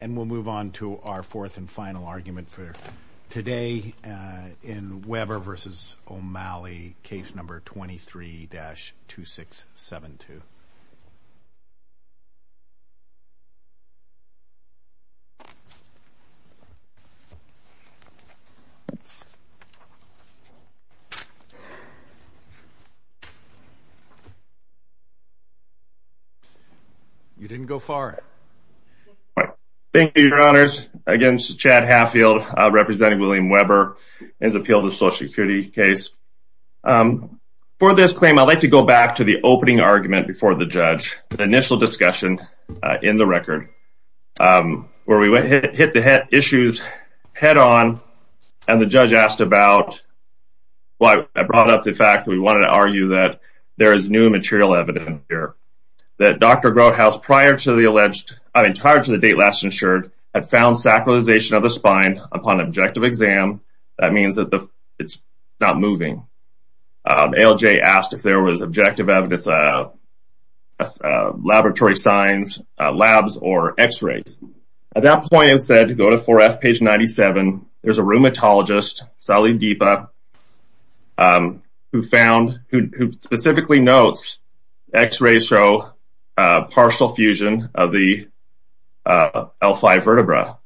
And we'll move on to our fourth and final argument for today in Weber v. O'Malley, case number 23-2672. You didn't go far. Chad Haffield Thank you, your honors, again, this is Chad Haffield. For this claim, I'd like to go back to the opening argument before the judge, the initial discussion in the record, where we hit the issues head on, and the judge asked about – well, I brought up the fact that we wanted to argue that there is new material evidence here, that Dr. Grothaus, prior to the alleged – I mean, prior to the date last insured, had found sacralization of the spine upon objective exam. That means that it's not moving. ALJ asked if there was objective evidence, laboratory signs, labs, or x-rays. At that point, it was said to go to 4F, page 97, there's a rheumatologist, Sally Deepa, who found – who specifically notes x-rays show partial fusion of the L5 vertebra.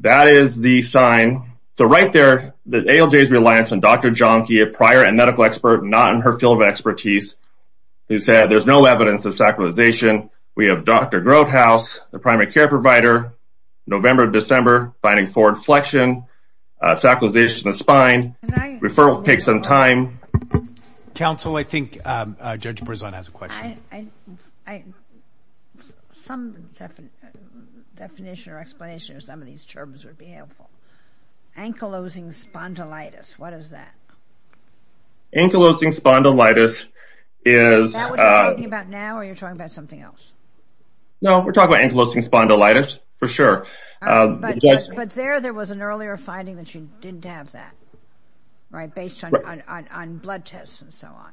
That is the sign – so right there, ALJ's reliance on Dr. Jahnke, a prior and medical expert not in her field of expertise, who said there's no evidence of sacralization. We have Dr. Grothaus, the primary care provider, November, December, finding forward flexion, sacralization of the spine, referral takes some time. Counsel, I think Judge Berzon has a question. I – some definition or explanation of some of these terms would be helpful. Ankylosing spondylitis, what is that? Ankylosing spondylitis is – Is that what you're talking about now, or are you talking about something else? No, we're talking about ankylosing spondylitis, for sure. But there, there was an earlier finding that you didn't have that, right? Based on blood tests and so on.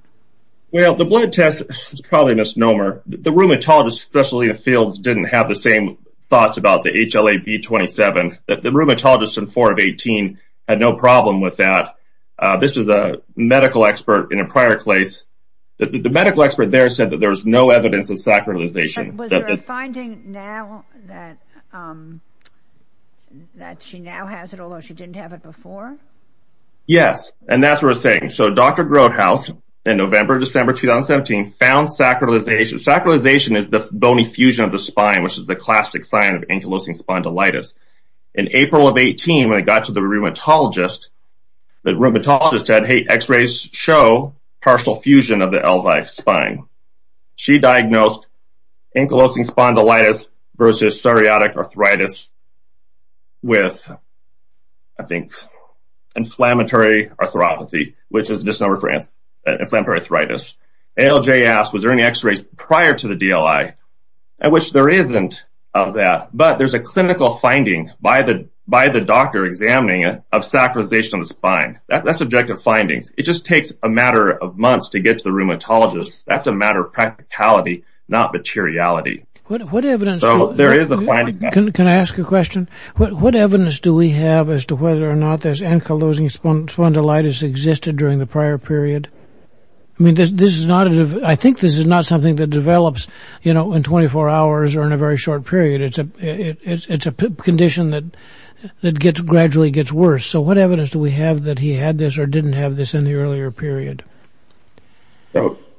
Well, the blood test is probably a misnomer. The rheumatologist, especially in the fields, didn't have the same thoughts about the HLA-B27. The rheumatologist in 4 of 18 had no problem with that. This is a medical expert in a prior place. The medical expert there said that there's no evidence of sacralization. Was there a finding now that she now has it, although she didn't have it before? Yes. And that's what we're saying. So, Dr. Grodhaus in November, December 2017 found sacralization. Sacralization is the bony fusion of the spine, which is the classic sign of ankylosing spondylitis. In April of 18, when it got to the rheumatologist, the rheumatologist said, hey, x-rays show partial fusion of the L5 spine. She diagnosed ankylosing spondylitis versus psoriatic arthritis with, I think, inflammatory arthropathy, which is a disorder for inflammatory arthritis. ALJ asked, was there any x-rays prior to the DLI? At which there isn't of that, but there's a clinical finding by the doctor examining of sacralization of the spine. That's objective findings. It just takes a matter of months to get to the rheumatologist. That's a matter of practicality, not materiality. Can I ask a question? What evidence do we have as to whether or not this ankylosing spondylitis existed during the prior period? I mean, I think this is not something that develops, you know, in 24 hours or in a very short period. It's a condition that gradually gets worse. So, what evidence do we have that he had this or didn't have this in the earlier period?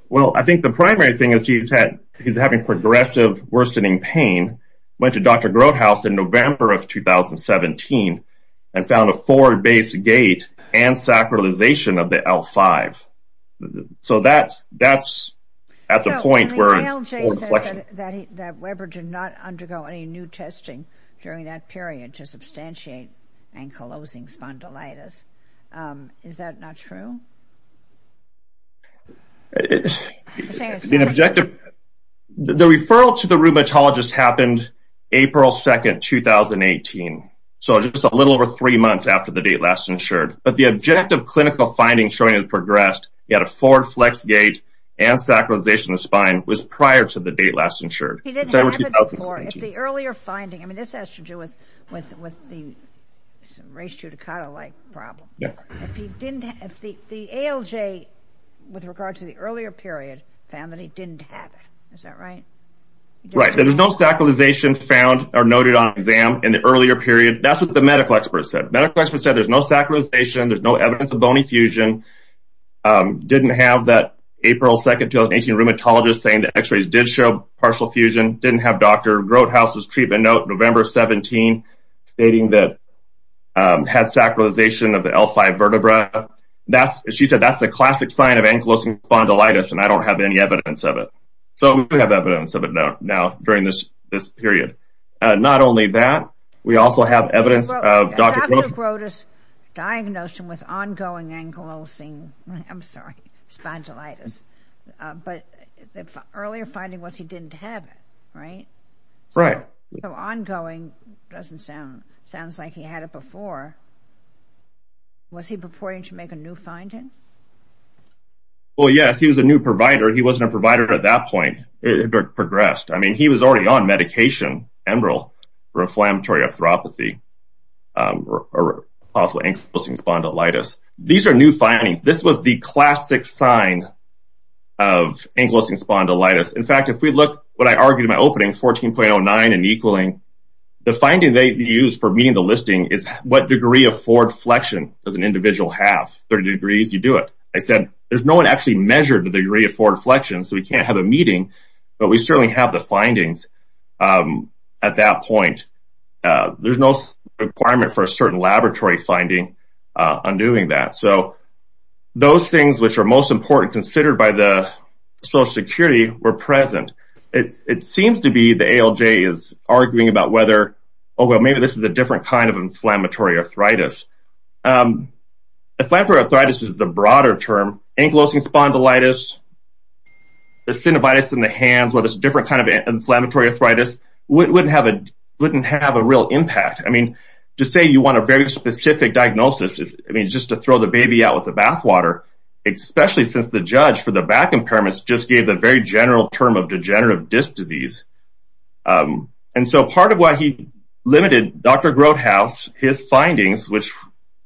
Well, I think the primary thing is he's having progressive worsening pain. Went to Dr. Grothaus in November of 2017 and found a forward base gait and sacralization of the L5. So, that's at the point where it's old collection. That Weber did not undergo any new testing during that period to substantiate ankylosing spondylitis. Is that not true? The objective, the referral to the rheumatologist happened April 2nd, 2018. So, just a little over three months after the date last insured. But the objective clinical findings showing it progressed, he had a forward flex gait and sacralization of the spine was prior to the date last insured. He didn't have it before. It's the earlier finding. I mean, this has to do with the race judicata-like problem. If he didn't have the ALJ with regard to the earlier period, found that he didn't have it. Is that right? Right. There was no sacralization found or noted on exam in the earlier period. That's what the medical experts said. Medical experts said there's no sacralization. There's no evidence of bony fusion. Didn't have that April 2nd, 2018, rheumatologist saying the x-rays did show partial fusion. Didn't have Dr. Grothaus' treatment note, November 17, stating that had sacralization of the L5 vertebra. She said that's the classic sign of ankylosing spondylitis and I don't have any evidence of it. So we have evidence of it now during this period. Not only that, we also have evidence of Dr. Grothaus' Diagnosed with ongoing ankylosing, I'm sorry, spondylitis. But the earlier finding was he didn't have it, right? Right. So ongoing doesn't sound, sounds like he had it before. Was he preparing to make a new finding? Well, yes, he was a new provider. He wasn't a provider at that point. It progressed. I mean, he was already on medication, emerald, inflammatory arthropathy, possible ankylosing spondylitis. These are new findings. This was the classic sign of ankylosing spondylitis. In fact, if we look what I argued in my opening 14.09 and equaling, the finding they use for meeting the listing is what degree of forward flexion does an individual have? 30 degrees, you do it. I said, there's no one actually measured the degree of forward flexion, so we can't have a meeting. But we certainly have the findings at that point. There's no requirement for a certain laboratory finding on doing that. So those things which are most important considered by the social security were present. It seems to be the ALJ is arguing about whether, oh, well, maybe this is a different kind of inflammatory arthritis. Inflammatory arthritis is the broader term. Ankylosing spondylitis, the synovitis in the hands, whether it's a different kind of inflammatory arthritis, wouldn't have a real impact. I mean, to say you want a very specific diagnosis, I mean, just to throw the baby out with the bathwater, especially since the judge for the back impairments just gave the very general term of degenerative disc disease. And so part of why he limited Dr. Grothaus, his findings, which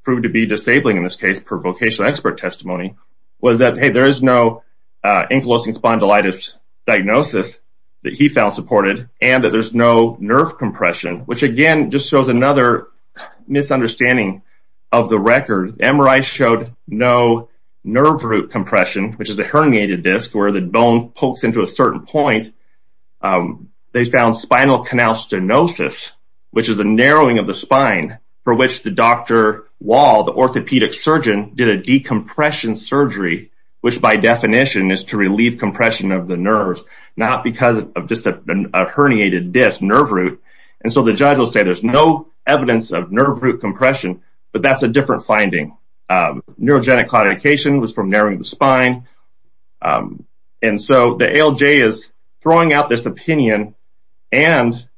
proved to be disabling in this case, per vocational expert testimony, was that, hey, there is no ankylosing spondylitis diagnosis that he found supported, and that there's no nerve compression, which, again, just shows another misunderstanding of the record. MRI showed no nerve root compression, which is a herniated disc, where the bone pokes into a certain point. They found spinal canal stenosis, which is a narrowing of the spine, for which the Dr. Wall, the orthopedic surgeon, did a decompression surgery, which by definition is to relieve compression of the nerves, not because of just a herniated disc nerve root. And so the judge will say there's no evidence of nerve root compression, but that's a different finding. Neurogenic claudication was from narrowing the spine. And so the ALJ is throwing out this opinion and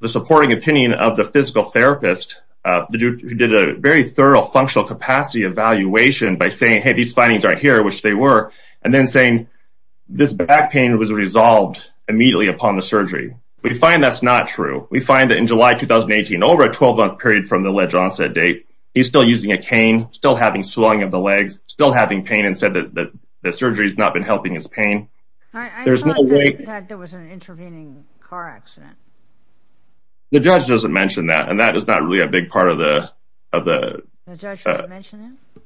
the supporting opinion of the physical therapist, who did a very thorough functional capacity evaluation by saying, hey, these findings aren't here, which they were, and then saying this back pain was resolved immediately upon the surgery. We find that's not true. We find that in July, 2018, over a 12-month period from the ledge onset date, he's still using a cane, still having swelling of the legs, still having pain, and said that the surgery has not been helping his pain. I thought there was an intervening car accident. The judge doesn't mention that, and that is not really a big part of the... The judge doesn't mention it?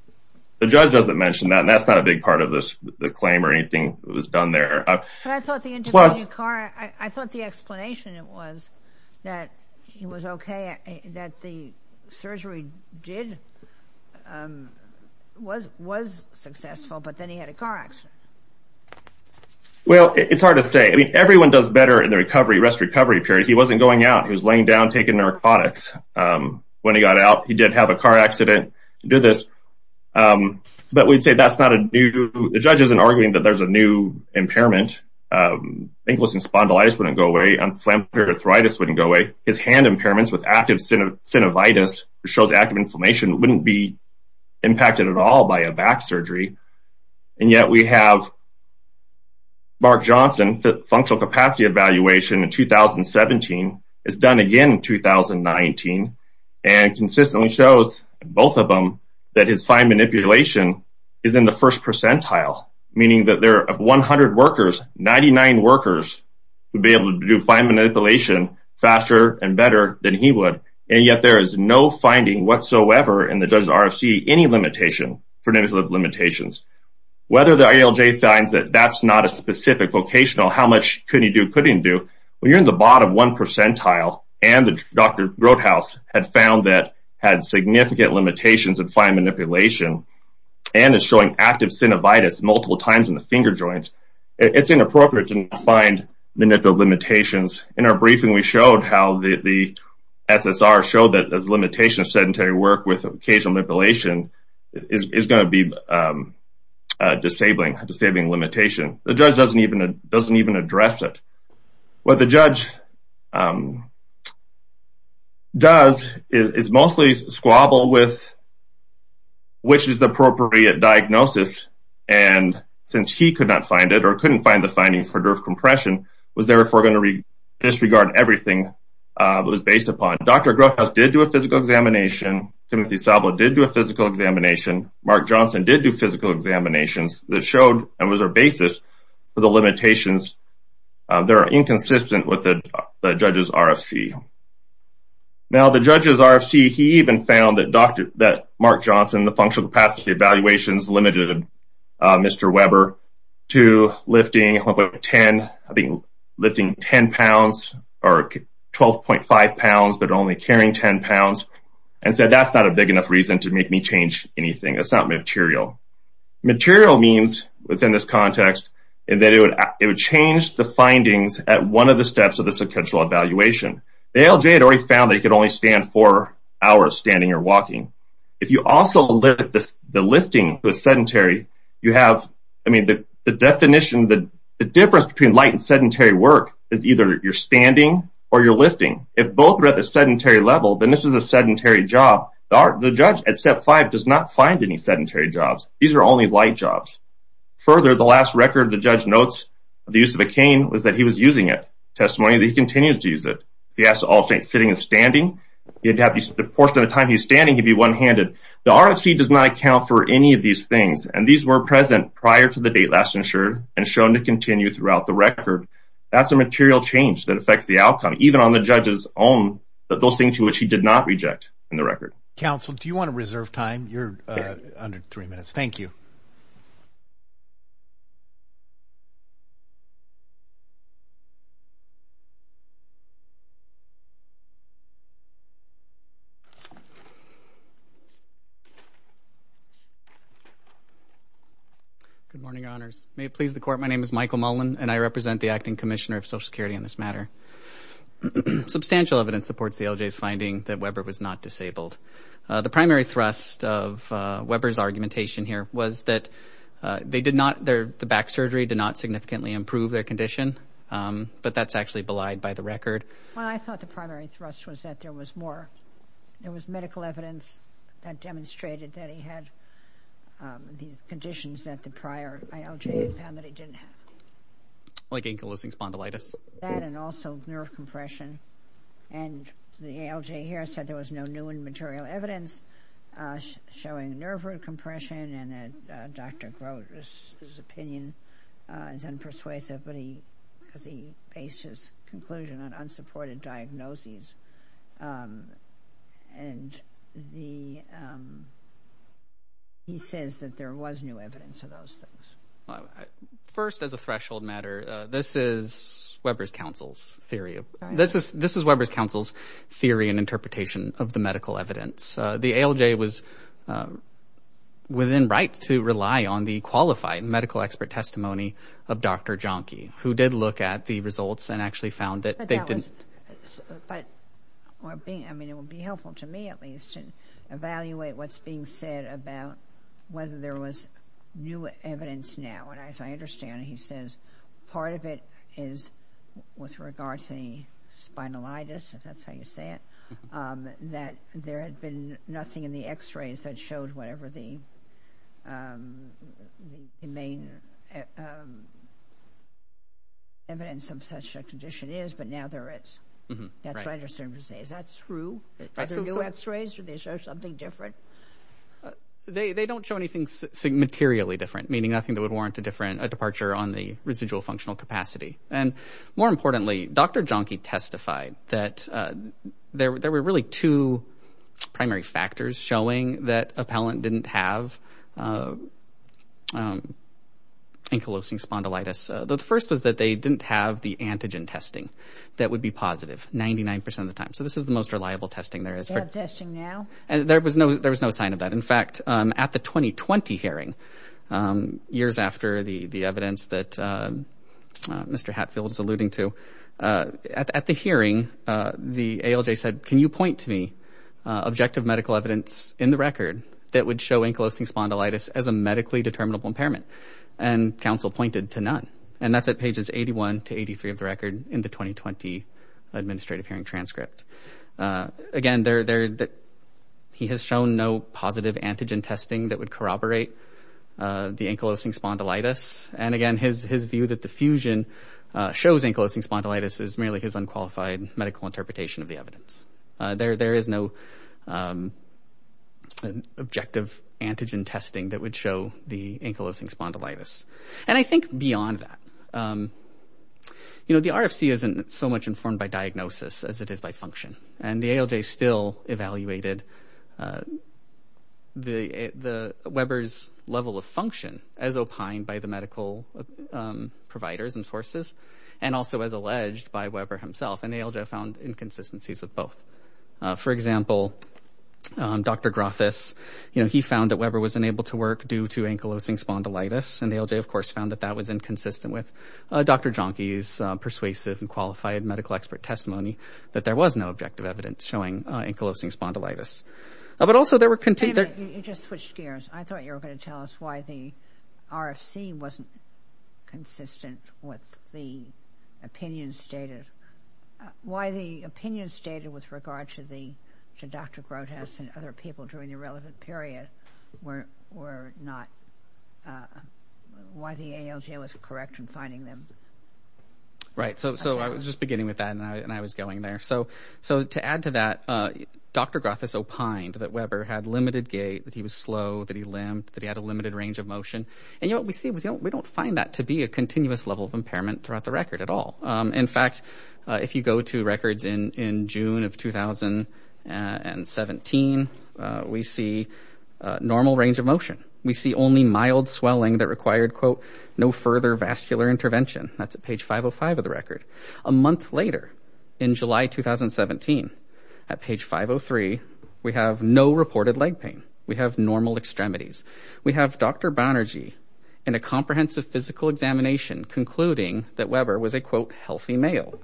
The judge doesn't mention that, and that's not a big part of the claim or anything that was done there. I thought the explanation was that he was okay, that the surgery did, was successful, but then he had a car accident. Well, it's hard to say. I mean, everyone does better in the recovery, rest-recovery period. He wasn't going out. He was laying down, taking narcotics. When he got out, he did have a car accident, did this, but we'd say that's not a new... The judge isn't arguing that there's a new impairment. Ankylosing spondylitis wouldn't go away. Unflammable arthritis wouldn't go away. His hand impairments with active synovitis, which shows active inflammation, wouldn't be impacted at all by a back surgery, and yet we have Mark Johnson, functional capacity evaluation in 2017, is done again in 2019, and consistently shows, both of them, that his fine manipulation is in the first percentile, meaning that there are 100 workers, 99 workers would be able to do fine manipulation faster and better than he would, and yet there is no finding whatsoever in the judge's RFC any limitation for manipulative limitations. Whether the ILJ finds that that's not a specific vocational, how much could he do, couldn't do, when you're in the bottom one percentile, and the Dr. Broadhouse had found that had significant limitations in fine manipulation, and is showing active synovitis multiple times in the finger joints, it's inappropriate to find manipulative limitations. In our briefing, we showed how the SSR showed that as limitation of sedentary work with occasional manipulation is going to be disabling limitation. The judge doesn't even address it. What the judge does is mostly squabble with which is the appropriate diagnosis, and since he could not find it or couldn't find the findings for nerve compression, was there if we're going to disregard everything that was based upon. Dr. Broadhouse did do a physical examination. Timothy Sablo did do a physical examination. Mark Johnson did do physical examinations that showed and was our basis for the limitations that are inconsistent with the judge's RFC. Now, the judge's RFC, he even found that Mark Johnson, the functional capacity evaluations limited Mr. Weber to lifting 10, lifting 10 pounds or 12.5 pounds, but only carrying 10 pounds, and said, that's not a big enough reason to make me change anything. That's not material. Material means within this context, and then it would change the findings at one of the steps of the sequential evaluation. The ALJ had already found that he could only stand four hours, standing or walking. If you also look at the lifting sedentary, you have, I mean, the definition, the difference between light and sedentary work is either you're standing or you're lifting. If both are at the sedentary level, then this is a sedentary job. The judge at step five does not find any sedentary jobs. These are only light jobs. Further, the last record the judge notes of the use of a cane was that he was using it. Testimony that he continues to use it. He has to alternate sitting and standing. You'd have the portion of the time he's standing, he'd be one-handed. The RFC does not account for any of these things, and these were present prior to the date last insured and shown to continue throughout the record. That's a material change that affects the outcome, even on the judge's own, that those things to which he did not reject in the record. Counsel, do you want to reserve time? You're under three minutes. Thank you. Good morning, honors. May it please the court, my name is Michael Mullen, and I represent the acting commissioner of Social Security on this matter. Substantial evidence supports the LJ's finding that Weber was not disabled. The primary thrust of Weber's argumentation here was that they did not, the back surgery did not significantly improve their condition, but that's actually belied by the record. Well, I thought the primary thrust was that there was more, there was medical evidence that demonstrated that he had these conditions that the prior ILJ found that he didn't have. Like ankylosing spondylitis? That and also nerve compression, and the ALJ here said there was no new and material evidence showing nerve root compression, and Dr. Grote's opinion is unpersuasive, because he based his conclusion on unsupported diagnoses, and he says that there was new evidence, but there was no evidence of those things. First, as a threshold matter, this is Weber's counsel's theory. This is Weber's counsel's theory and interpretation of the medical evidence. The ALJ was within right to rely on the qualified medical expert testimony of Dr. Jahnke, who did look at the results and actually found that they didn't. But, I mean, it would be helpful to me, at least, to evaluate what's being said about whether there was new evidence now, and as I understand it, he says, part of it is with regard to the spondylitis, if that's how you say it, that there had been nothing in the x-rays that showed whatever the main evidence of such a condition is, but now there is. That's what I'm trying to say. Is that true? Are there new x-rays? Did they show something different? They don't show anything materially different, meaning nothing that would warrant a departure on the residual functional capacity. And, more importantly, Dr. Jahnke testified that there were really two primary factors showing that a palate didn't have ankylosing spondylitis. The first was that they didn't have the antigen testing that would be positive 99% of the time. So this is the most reliable testing there is. Is that testing now? There was no sign of that. In fact, at the 2020 hearing, years after the evidence that Mr. Hatfield is alluding to, at the hearing, the ALJ said, can you point to me objective medical evidence in the record that would show ankylosing spondylitis as a medically determinable impairment? And counsel pointed to none. And that's at pages 81 to 83 of the record in the 2020 administrative hearing transcript. Again, he has shown no positive antigen testing that would corroborate the ankylosing spondylitis. And again, his view that the fusion shows ankylosing spondylitis is merely his unqualified medical interpretation of the evidence. There is no objective antigen testing that would show the ankylosing spondylitis. And I think beyond that, the RFC isn't so much informed by diagnosis as it is by function. And the ALJ still evaluated the Weber's level of function as opined by the medical providers and sources, and also as alleged by Weber himself. And ALJ found inconsistencies of both. For example, Dr. Grafis, he found that Weber was unable to work due to ankylosing spondylitis. And ALJ, of course, found that that was inconsistent with Dr. Jahnke's persuasive and qualified medical expert testimony that there was no objective evidence showing ankylosing spondylitis. But also there were... Wait a minute, you just switched gears. I thought you were going to tell us why the RFC wasn't consistent with the opinion stated. Why the opinion stated with regard to Dr. Grafis and other people during the relevant period were not... Why the ALJ was correct in finding them. Right, so I was just beginning with that and I was going there. So to add to that, Dr. Grafis opined that Weber had limited gait, that he was slow, that he limped, that he had a limited range of motion. And what we see was we don't find that to be a continuous level of impairment throughout the record at all. In fact, if you go to records in June of 2017, we see normal range of motion. We see only mild swelling that required, quote, no further vascular intervention. That's at page 505 of the record. A month later, in July 2017, at page 503, we have no reported leg pain. We have normal extremities. We have Dr. Banerjee in a comprehensive physical examination concluding that Weber was a, quote, healthy male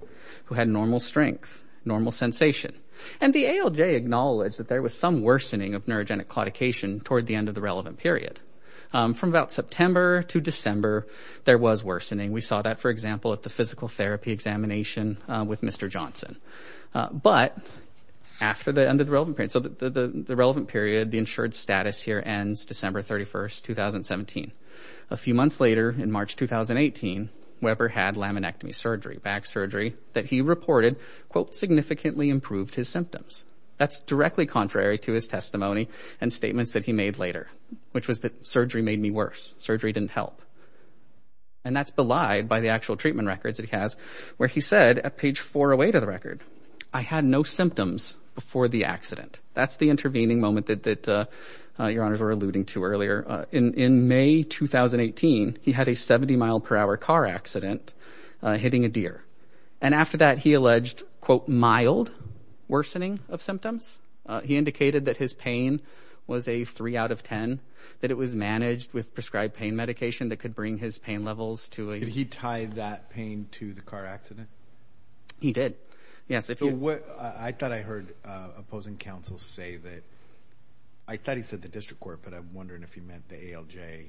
who had normal strength, normal sensation. And the ALJ acknowledged that there was some worsening of neurogenic claudication toward the end of the relevant period. From about September to December, there was worsening. We saw that, for example, at the physical therapy examination with Mr. Johnson. But after the end of the relevant period, so the relevant period, the insured status here ends December 31st, 2017. A few months later, in March 2018, Weber had laminectomy surgery, back surgery that he reported, quote, significantly improved his symptoms. That's directly contrary to his testimony and statements that he made later, which was that surgery made me worse. Surgery didn't help. And that's belied by the actual treatment records that he has, where he said at page 408 of the record, I had no symptoms before the accident. That's the intervening moment that your honors were alluding to earlier. In May 2018, he had a 70 mile per hour car accident hitting a deer. And after that, he alleged, quote, mild worsening of symptoms. He indicated that his pain was a three out of 10, that it was managed with prescribed pain medication that could bring his pain levels to a- Did he tie that pain to the car accident? He did. Yes. I thought I heard opposing counsel say that, I thought he said the district court, but I'm wondering if he meant the ALJ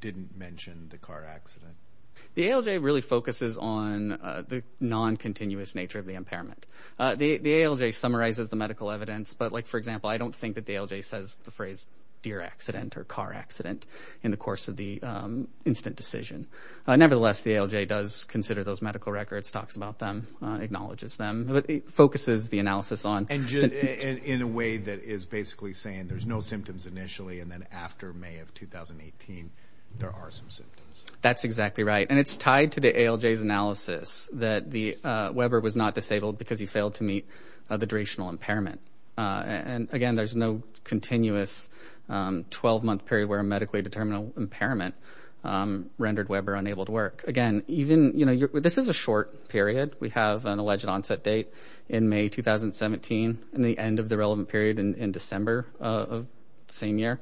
didn't mention the car accident. The ALJ really focuses on the non-continuous nature of the impairment. The ALJ summarizes the medical evidence, but like, for example, I don't think that the ALJ says the phrase deer accident or car accident in the course of the incident decision. Nevertheless, the ALJ does consider those medical records, talks about them, acknowledges them, but it focuses the analysis on- And in a way that is basically saying there's no symptoms initially, and then after May of 2018, there are some symptoms. That's exactly right. And it's tied to the ALJ's analysis that Weber was not disabled because he failed to meet the durational impairment. And again, there's no continuous 12 month period where a medically determinable impairment rendered Weber unable to work. Again, this is a short period. We have an alleged onset date in May 2017 and the end of the relevant period in December of the same year.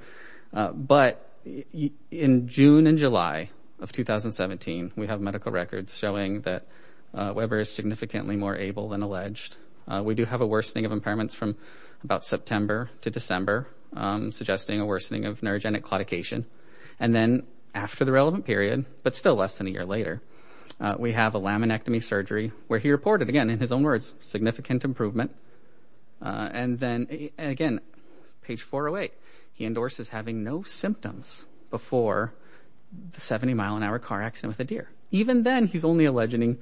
But in June and July of 2017, we have medical records showing that Weber is significantly more able than alleged. We do have a worsening of impairments from about September to December, suggesting a worsening of neurogenic claudication. And then after the relevant period, but still less than a year later, we have a laminectomy surgery where he reported again, in his own words, significant improvement. And then again, page 408, he endorses having no symptoms before the 70 mile an hour car accident with a deer. Even then he's only alleging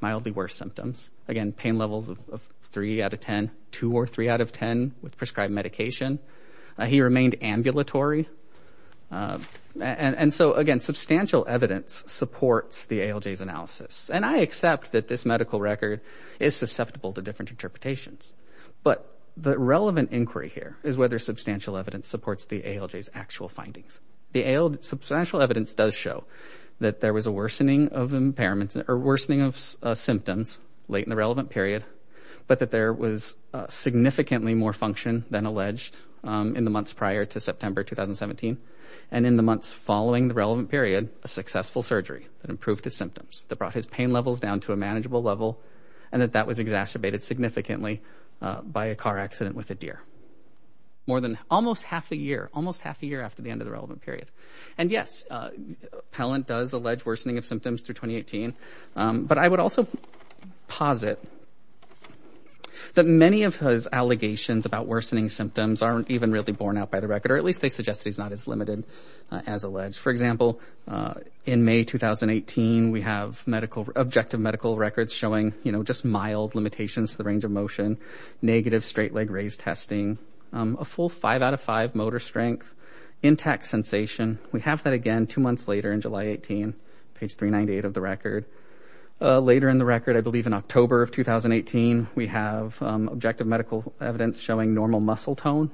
mildly worse symptoms. Again, pain levels of three out of 10, two or three out of 10 with prescribed medication. He remained ambulatory. And so again, substantial evidence supports the ALJ's analysis. And I accept that this medical record is susceptible to different interpretations. But the relevant inquiry here is whether substantial evidence supports the ALJ's actual findings. The substantial evidence does show that there was a worsening of impairments or worsening of symptoms late in the relevant period, but that there was significantly more function than alleged in the months prior to September, 2017. And in the months following the relevant period, a successful surgery that improved his symptoms, that brought his pain levels down to a manageable level. And that that was exacerbated significantly by a car accident with a deer. More than almost half a year, almost half a year after the end of the relevant period. And yes, Pellant does allege worsening of symptoms through 2018. But I would also posit that many of his allegations about worsening symptoms aren't even really borne out by the record, or at least they suggest he's not as limited as alleged. For example, in May, 2018, we have medical, objective medical records showing, you know, just mild limitations to the range of motion, negative straight leg raise testing, a full five out of five motor strength, intact sensation. We have that again, two months later in July, 18, page 398 of the record. Later in the record, I believe in October of 2018, we have objective medical evidence showing normal muscle tone,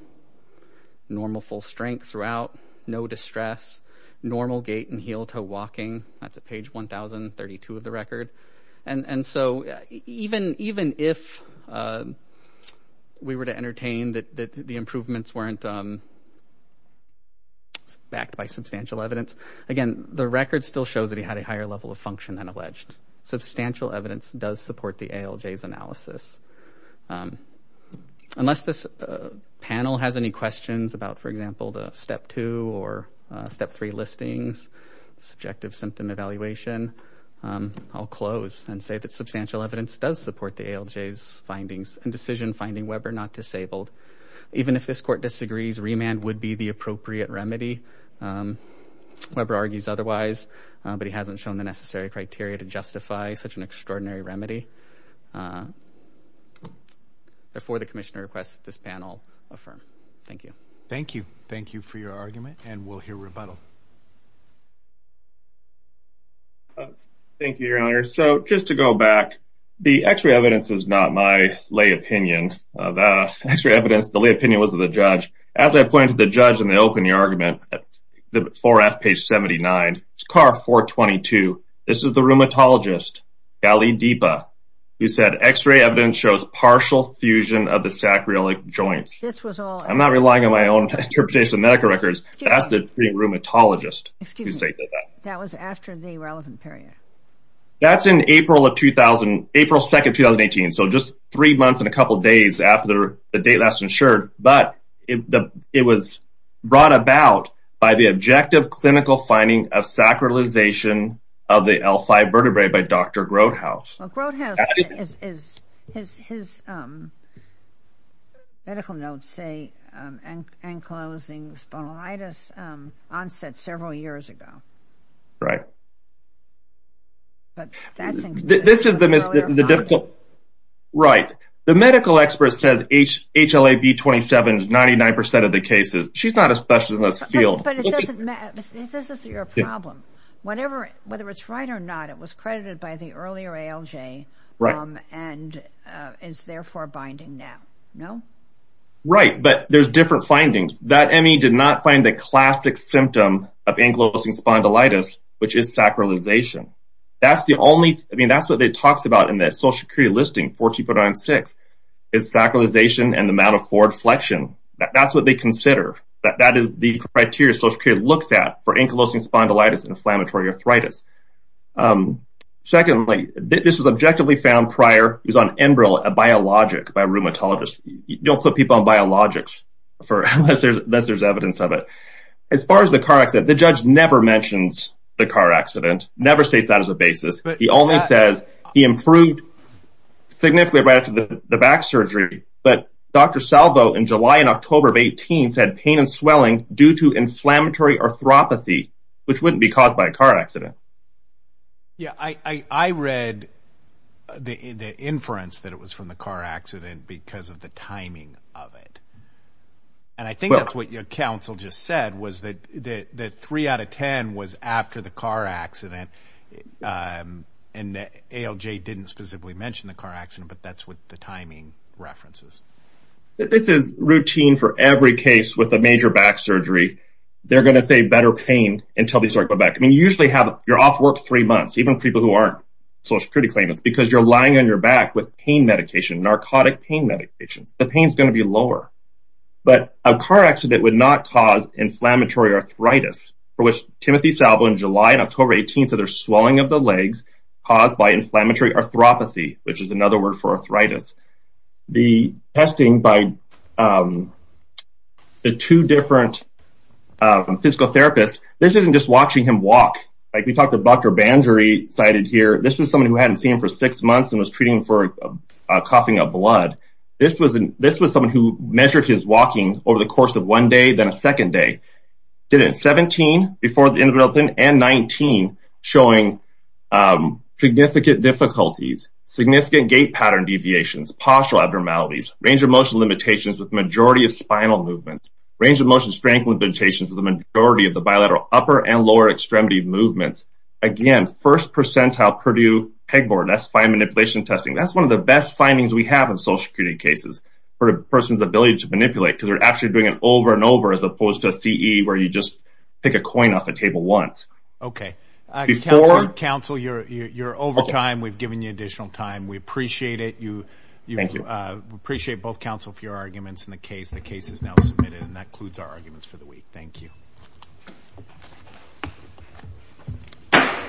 normal full strength throughout, no distress, normal gait and heel toe walking. That's at page 1032 of the record. And so even if we were to entertain that the improvements weren't backed by substantial evidence, again, the record still shows that he had a higher level of function than alleged. Substantial evidence does support the ALJ's analysis. Unless this panel has any questions about, for example, the step two or step three listings, subjective symptom evaluation, I'll close and say that substantial evidence does support the ALJ's findings and decision finding Weber not disabled. Even if this court disagrees, remand would be the appropriate remedy. Weber argues otherwise, but he hasn't shown the necessary criteria to justify such an extraordinary remedy. Therefore, the commissioner requests this panel affirm. Thank you. Thank you. Thank you for your argument and we'll hear rebuttal. Thank you, Your Honor. So just to go back, the x-ray evidence is not my lay opinion. The x-ray evidence, the lay opinion was of the judge. As I pointed to the judge in the opening argument, the 4F page 79, SCAR 422. This is the rheumatologist, Gali Deepa, who said x-ray evidence shows partial fusion of the sacroiliac joints. I'm not relying on my own interpretation of medical records. That's the pre-rheumatologist. Excuse me. That was after the relevant period. That's in April of 2000, April 2nd, 2018. So just three months and a couple of days after the date last insured. But it was brought about by the objective clinical finding of sacralization of the L5 vertebrae by Dr. Grothaus. Well, Grothaus, his medical notes say enclosing spondylitis onset several years ago. Right. Right. The medical expert says HLA-B27 is 99% of the cases. She's not as special in this field. But it doesn't matter. This is your problem. Whether it's right or not, it was credited by the earlier ALJ and is therefore binding now. No? Right. But there's different findings. That ME did not find the classic symptom of enclosing spondylitis, which is sacralization. That's what it talks about in the social career listing 14.96 is sacralization and the amount of forward flexion. That's what they consider. That is the criteria social care looks at for enclosing spondylitis and inflammatory arthritis. Secondly, this was objectively found prior. He was on Enbrel, a biologic by a rheumatologist. Don't put people on biologics unless there's evidence of it. As far as the car accident, the judge never mentions the car accident, never state that as a basis. He only says he improved significantly right after the back surgery. But Dr. Salvo, in July and October of 18, said pain and swelling due to inflammatory arthropathy, which wouldn't be caused by a car accident. Yeah, I read the inference that it was from the car accident because of the timing of it. And I think that's what your counsel just said, was that three out of 10 was after the car accident. And ALJ didn't specifically mention the car accident, but that's what the timing references. This is routine for every case with a major back surgery. They're going to say better pain until they start to go back. I mean, you usually have, you're off work three months, even people who aren't Social Security claimants, because you're lying on your back with pain medication, narcotic pain medication. The pain is going to be lower. But a car accident would not cause inflammatory arthritis, for which Timothy Salvo, in July and October 18, said there's swelling of the legs caused by inflammatory arthropathy, which is another word for arthritis. The testing by the two different physical therapists, this isn't just watching him walk. Like we talked to Dr. Banjari, cited here, this was someone who hadn't seen him for six months and was treating for coughing up blood. This was someone who measured his walking over the course of one day, then a second day. Did it at 17 before the end of development and 19 showing significant difficulties, significant gait pattern deviations, partial abnormalities, range of motion limitations with majority of spinal movement, range of motion strength limitations with the majority of the bilateral upper and lower extremity movements. Again, first percentile Purdue pegboard, that's fine manipulation testing. That's one of the best findings we have in Social Security cases for a person's ability to manipulate, because they're actually doing it over and over as opposed to a CE where you just pick a coin off the table once. OK. Counsel, you're over time. We've given you additional time. We appreciate it. You thank you. Appreciate both counsel for your arguments in the case. The case is now submitted and that includes our arguments for the week. Thank you.